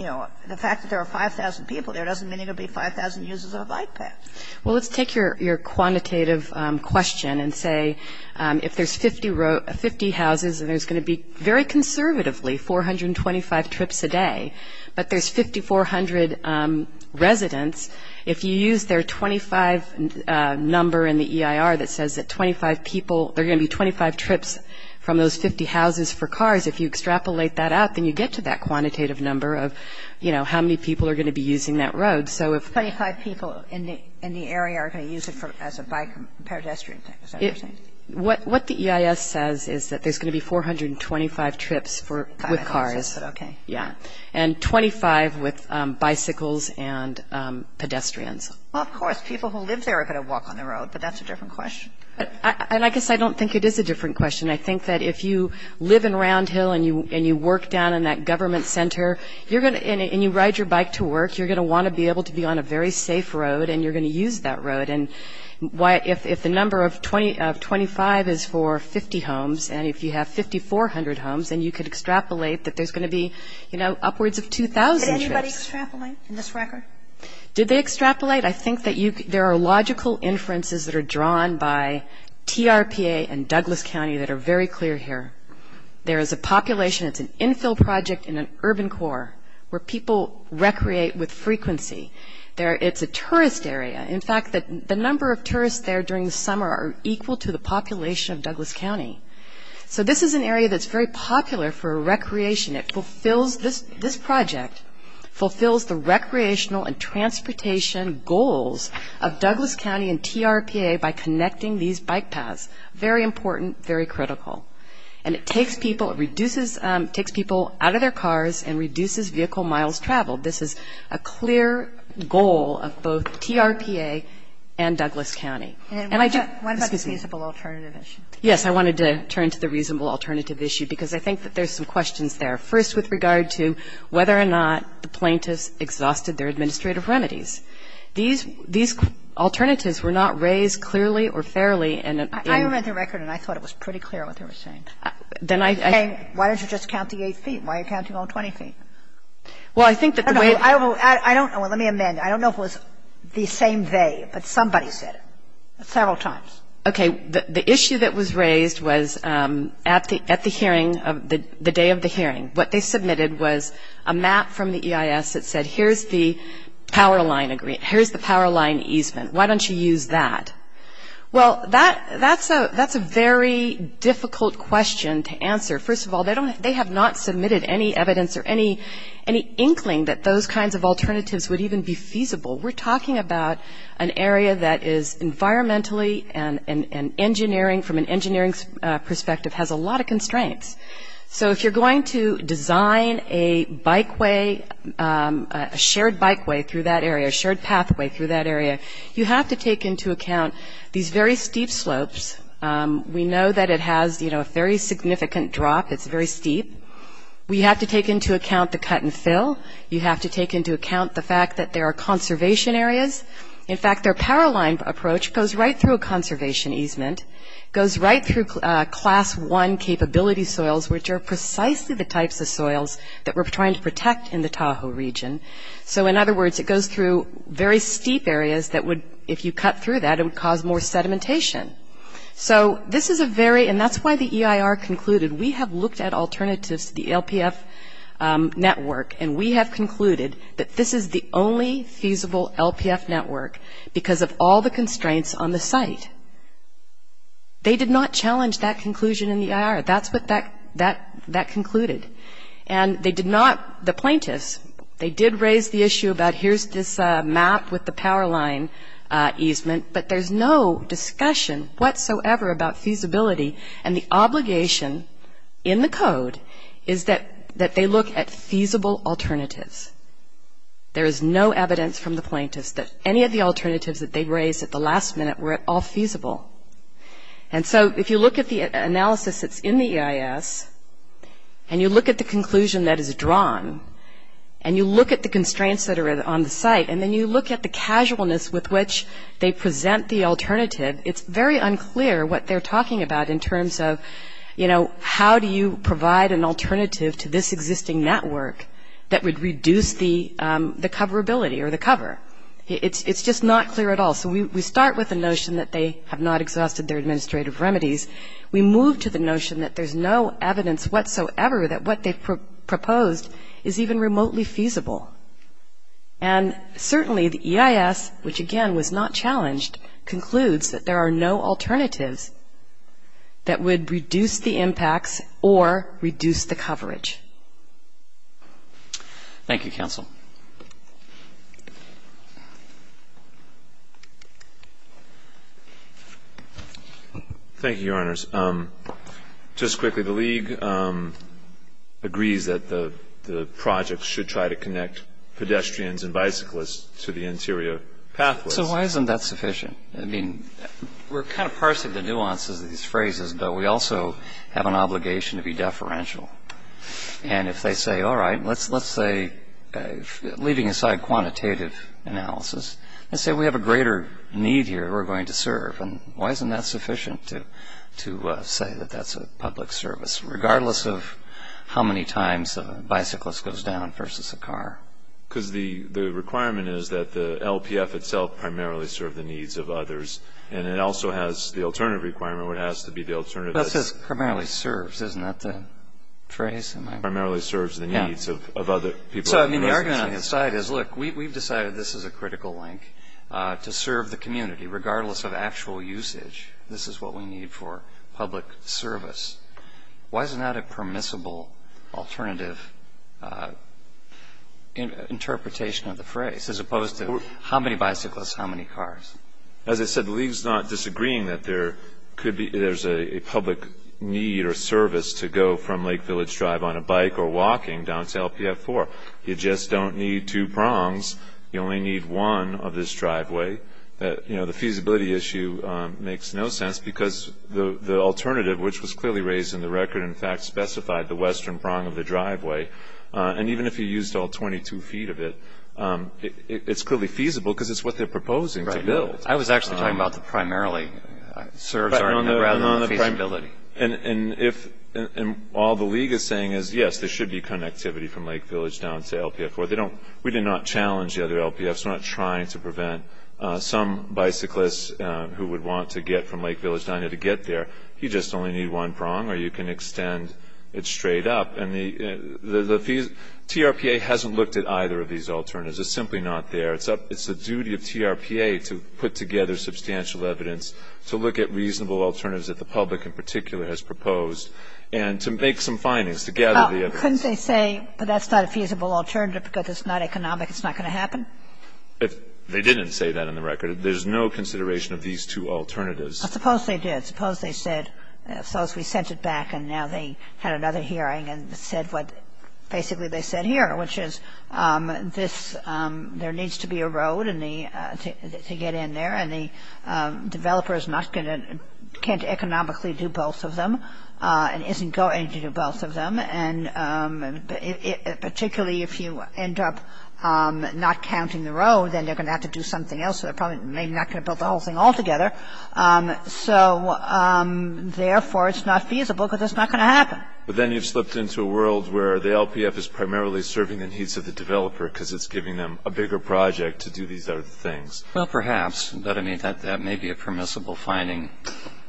you know, the fact that there are 5,000 people there doesn't mean there will be 5,000 uses of a bike path. Well, let's take your quantitative question and say if there's 50 houses and there's going to be, very conservatively, 425 trips a day, but there's 5,400 residents, if you use their 25 number in the EIR that says that 25 people – there are going to be 25 trips from those 50 houses for cars, if you extrapolate that out, then you get to that quantitative number of, you know, how many people are going to be using that road. So if – Twenty-five people in the area are going to use it as a bike pedestrian thing. Is that what you're saying? What the EIS says is that there's going to be 425 trips for – with cars. Okay. Yeah. And 25 with bicycles and pedestrians. Well, of course, people who live there are going to walk on the road, but that's a different question. And I guess I don't think it is a different question. I think that if you live in Round Hill and you work down in that government center, and you ride your bike to work, you're going to want to be able to be on a very safe road, and you're going to use that road. And if the number of 25 is for 50 homes, and if you have 5,400 homes, then you could extrapolate that there's going to be, you know, upwards of 2,000 trips. Did anybody extrapolate in this record? Did they extrapolate? I think that there are logical inferences that are drawn by TRPA and Douglas County that are very clear here. There is a population – it's an infill project in an urban core where people recreate with frequency. It's a tourist area. In fact, the number of tourists there during the summer are equal to the population of Douglas County. So this is an area that's very popular for recreation. It fulfills – this project fulfills the recreational and transportation goals of Douglas County and TRPA by connecting these bike paths. Very important, very critical. And it takes people – it reduces – it takes people out of their cars and reduces vehicle miles traveled. This is a clear goal of both TRPA and Douglas County. And I just – excuse me. And what about the feasible alternative issue? Yes. I wanted to turn to the reasonable alternative issue, because I think that there's some questions there. First, with regard to whether or not the plaintiffs exhausted their administrative remedies. These – these alternatives were not raised clearly or fairly in an – I read the record, and I thought it was pretty clear what they were saying. Then I – Why don't you just count the 8 feet? Why are you counting all 20 feet? Well, I think that the way – I don't know. Let me amend. I don't know if it was the same they, but somebody said it several times. Okay. The issue that was raised was at the hearing, the day of the hearing. What they submitted was a map from the EIS that said, here's the power line easement. Why don't you use that? Well, that's a very difficult question to answer. First of all, they don't – they have not submitted any evidence or any inkling that those kinds of alternatives would even be feasible. We're talking about an area that is environmentally and engineering, from an engineering perspective, has a lot of constraints. So if you're going to design a bikeway, a shared bikeway through that area, a shared pathway through that area, you have to take into account these very steep slopes. We know that it has, you know, a very significant drop. It's very steep. We have to take into account the cut and fill. You have to take into account the fact that there are conservation areas. In fact, their power line approach goes right through a conservation easement, goes right through class one capability soils, which are precisely the types of soils that we're trying to protect in the Tahoe region. So, in other words, it goes through very steep areas that would, if you cut through that, it would cause more sedimentation. So this is a very – and that's why the EIR concluded, we have looked at alternatives to the LPF network, and we have concluded that this is the only feasible LPF network because of all the constraints on the site. They did not challenge that conclusion in the EIR. That's what that concluded. And they did not – the plaintiffs, they did raise the issue about here's this map with the power line easement, but there's no discussion whatsoever about feasibility, and the obligation in the code is that they look at feasible alternatives. There is no evidence from the plaintiffs that any of the alternatives that they raised at the last minute were at all feasible. And so if you look at the analysis that's in the EIS, and you look at the conclusion that is drawn, and you look at the constraints that are on the site, and then you look at the casualness with which they present the alternative, it's very unclear what they're talking about in terms of, you know, how do you provide an alternative to this existing network that would reduce the coverability or the cover. It's just not clear at all. So we start with the notion that they have not exhausted their administrative remedies. We move to the notion that there's no evidence whatsoever that what they've proposed is even remotely feasible. And certainly the EIS, which again was not challenged, concludes that there are no alternatives that would reduce the impacts or reduce the coverage. Thank you, counsel. Thank you, Your Honors. Just quickly, the league agrees that the project should try to connect pedestrians and bicyclists to the interior pathways. So why isn't that sufficient? I mean, we're kind of parsing the nuances of these phrases, but we also have an obligation to be deferential. And if they say, all right, let's say, leaving aside quantitative analysis, let's say we have a greater need here that we're going to serve. And why isn't that sufficient to say that that's a public service, regardless of how many times a bicyclist goes down versus a car? Because the requirement is that the LPF itself primarily serve the needs of others, and it also has the alternative requirement where it has to be the alternative. Well, it says primarily serves. Isn't that the phrase? Primarily serves the needs of other people. So, I mean, the argument on the side is, look, we've decided this is a critical link to serve the community, regardless of actual usage. This is what we need for public service. Why isn't that a permissible alternative interpretation of the phrase, as opposed to how many bicyclists, how many cars? As I said, the league's not disagreeing that there could be – there's a public need or service to go from Lake Village Drive on a bike or walking down to LPF 4. You just don't need two prongs. You only need one of this driveway. You know, the feasibility issue makes no sense because the alternative, which was clearly raised in the record, in fact, specified the western prong of the driveway. And even if you used all 22 feet of it, it's clearly feasible because it's what they're proposing to build. I was actually talking about the primarily serves rather than the feasibility. And all the league is saying is, yes, there should be connectivity from Lake Village down to LPF 4. We did not challenge the other LPFs. We're just not trying to prevent some bicyclists who would want to get from Lake Village down there to get there. You just only need one prong or you can extend it straight up. And the TRPA hasn't looked at either of these alternatives. It's simply not there. It's the duty of TRPA to put together substantial evidence to look at reasonable alternatives that the public in particular has proposed and to make some findings, to gather the evidence. Couldn't they say, but that's not a feasible alternative because it's not economic. It's not going to happen? They didn't say that in the record. There's no consideration of these two alternatives. I suppose they did. I suppose they said, so as we sent it back and now they had another hearing and said what basically they said here, which is this, there needs to be a road to get in there. And the developer is not going to, can't economically do both of them and isn't going to do both of them. And particularly if you end up not counting the road, then they're going to have to do something else. They're probably maybe not going to build the whole thing altogether. So, therefore, it's not feasible because it's not going to happen. But then you've slipped into a world where the LPF is primarily serving the needs of the developer because it's giving them a bigger project to do these other things. Well, perhaps. But, I mean, that may be a permissible finding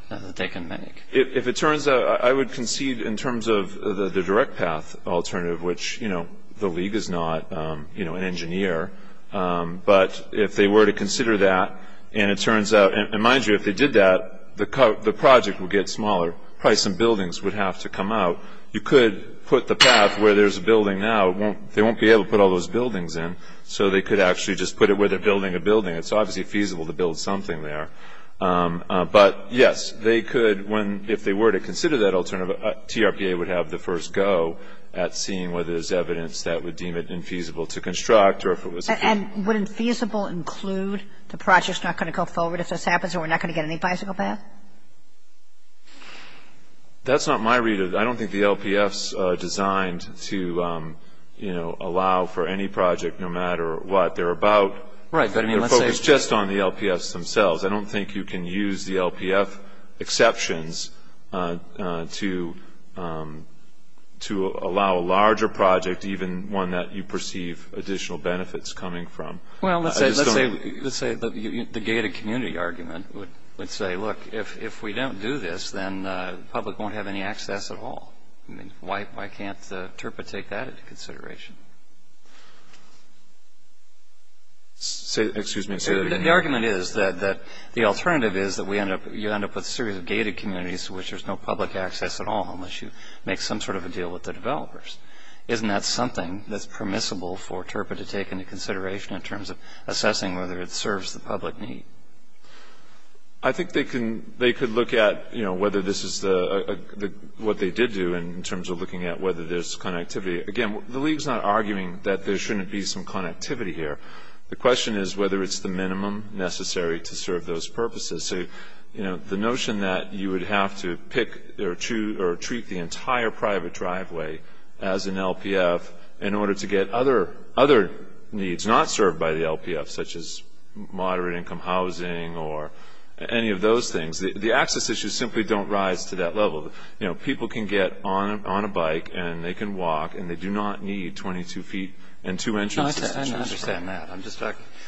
that they can make. If it turns out, I would concede in terms of the direct path alternative, which the league is not an engineer. But if they were to consider that and it turns out, and mind you, if they did that, the project would get smaller. Probably some buildings would have to come out. You could put the path where there's a building now, they won't be able to put all those buildings in. So they could actually just put it where they're building a building. It's obviously feasible to build something there. But, yes, they could, if they were to consider that alternative, TRPA would have the first go at seeing whether there's evidence that would deem it infeasible to construct. And would infeasible include the project's not going to go forward if this happens and we're not going to get any bicycle path? That's not my read of it. I don't think the LPF's designed to, you know, allow for any project no matter what. They're about, they're focused just on the LPFs themselves. I don't think you can use the LPF exceptions to allow a larger project, even one that you perceive additional benefits coming from. Well, let's say the gated community argument would say, look, if we don't do this, then the public won't have any access at all. Why can't TRPA take that into consideration? Excuse me. The argument is that the alternative is that you end up with a series of gated communities in which there's no public access at all unless you make some sort of a deal with the developers. Isn't that something that's permissible for TRPA to take into consideration in terms of assessing whether it serves the public need? I think they could look at, you know, whether this is what they did do in terms of looking at whether there's connectivity. Again, the league's not arguing that there shouldn't be some connectivity here. The question is whether it's the minimum necessary to serve those purposes. So, you know, the notion that you would have to pick or treat the entire private driveway as an LPF in order to get other needs not served by the LPF, such as moderate income housing or any of those things, the access issues simply don't rise to that level. You know, people can get on a bike and they can walk and they do not need 22 feet and two entrances.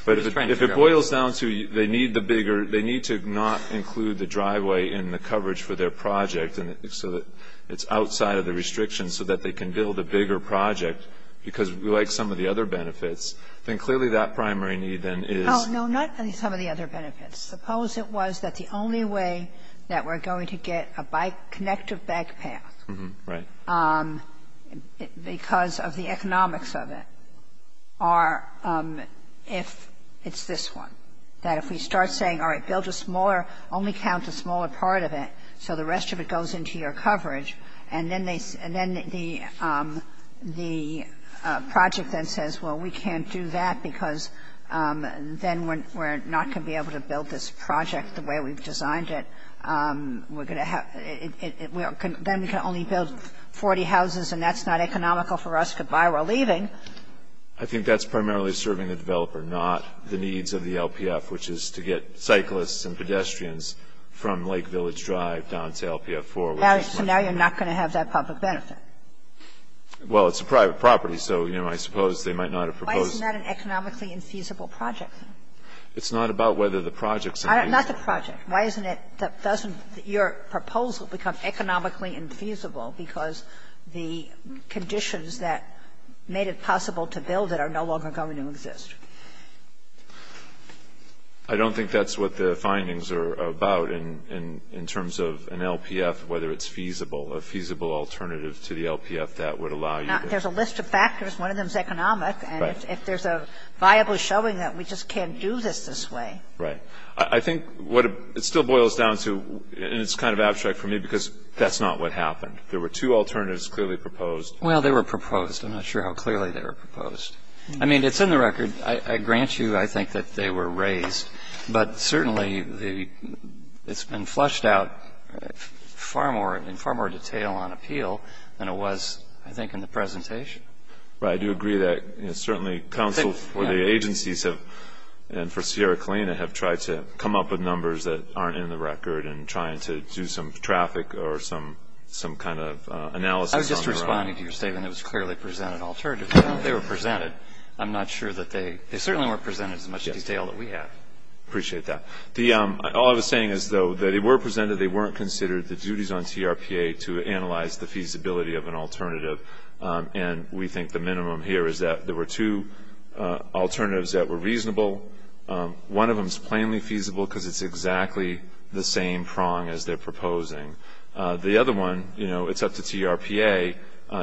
But if it boils down to they need the bigger, they need to not include the driveway in the coverage for their project so that it's outside of the restrictions so that they can build a bigger project, because like some of the other benefits, then clearly that primary need then is. Oh, no, not some of the other benefits. Suppose it was that the only way that we're going to get a bike connective back path. Right. Because of the economics of it. Or if it's this one, that if we start saying, all right, build a smaller, only count the smaller part of it so the rest of it goes into your coverage and then the project then says, well, we can't do that because then we're not going to be able to build this project the way we've designed it. Then we can only build 40 houses and that's not economical for us to buy. We're leaving. I think that's primarily serving the developer, not the needs of the LPF, which is to get cyclists and pedestrians from Lake Village Drive down to LPF 4. So now you're not going to have that public benefit. Well, it's a private property, so, you know, I suppose they might not have proposed Why isn't that an economically infeasible project? It's not about whether the project's infeasible. Not the project. Why doesn't your proposal become economically infeasible because the conditions that made it possible to build it are no longer going to exist? I don't think that's what the findings are about in terms of an LPF, whether it's feasible, a feasible alternative to the LPF that would allow you to There's a list of factors. One of them is economic. Right. And if there's a viable showing that we just can't do this this way. Right. I think what it still boils down to, and it's kind of abstract for me because that's not what happened. There were two alternatives clearly proposed. Well, they were proposed. I'm not sure how clearly they were proposed. I mean, it's in the record. I grant you, I think, that they were raised, but certainly it's been flushed out in far more detail on appeal than it was, I think, in the presentation. Right. I do agree that certainly counsel for the agencies and for Sierra Colina have tried to come up with numbers that aren't in the record and trying to do some traffic or some kind of analysis on their own. I was just responding to your statement. It was clearly presented alternatives. They were presented. I'm not sure that they certainly weren't presented in as much detail as we have. I appreciate that. All I was saying is, though, that they were presented, they weren't considered the duties on TRPA to analyze the feasibility of an alternative and we think the minimum here is that there were two alternatives that were reasonable. One of them is plainly feasible because it's exactly the same prong as they're proposing. The other one, you know, it's up to TRPA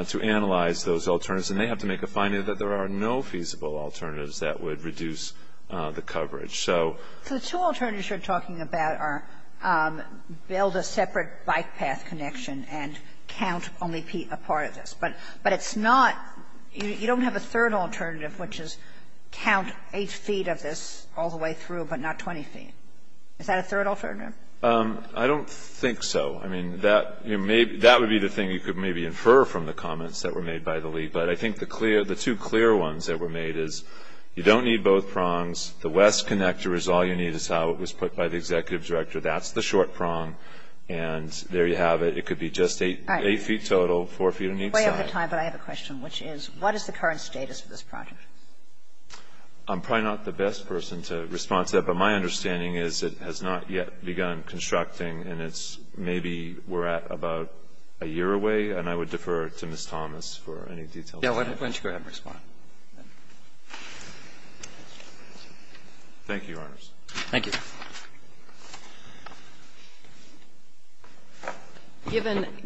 to analyze those alternatives and they have to make a finding that there are no feasible alternatives that would reduce the coverage. So the two alternatives you're talking about are build a separate bike path connection and count only a part of this. But it's not, you don't have a third alternative, which is count 8 feet of this all the way through, but not 20 feet. Is that a third alternative? I don't think so. I mean, that would be the thing you could maybe infer from the comments that were made by the league. But I think the two clear ones that were made is you don't need both prongs. The west connector is all you need is how it was put by the executive director. That's the short prong. And there you have it. It could be just 8 feet total, 4 feet on each side. All right. We're way over time, but I have a question, which is what is the current status of this project? I'm probably not the best person to respond to that, but my understanding is it has not yet begun constructing and it's maybe we're at about a year away, and I would defer to Ms. Thomas for any details. Why don't you go ahead and respond? Thank you, Your Honors. Thank you.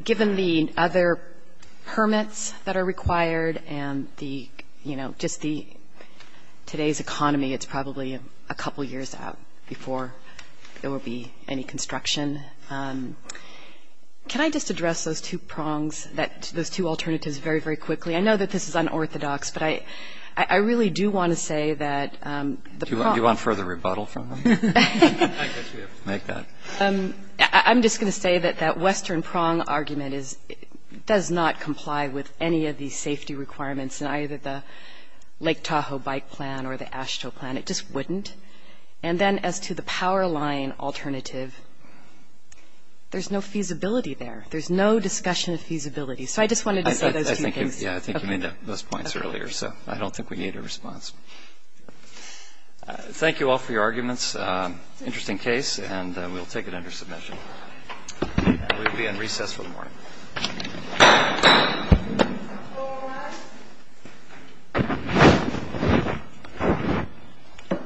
Given the other permits that are required and the, you know, just the today's economy, it's probably a couple years out before there will be any construction, can I just address those two prongs, those two alternatives very, very quickly? I know that this is unorthodox, but I really do want to say that the prongs Do you want further rebuttal from them? Make that. I'm just going to say that that western prong argument does not comply with any of these safety requirements in either the Lake Tahoe bike plan or the AASHTO plan. It just wouldn't. And then as to the power line alternative, there's no feasibility there. There's no discussion of feasibility. So I just wanted to say those two things. I think you made those points earlier, so I don't think we need a response. Thank you all for your arguments. Interesting case, and we'll take it under submission. We'll be in recess for the morning.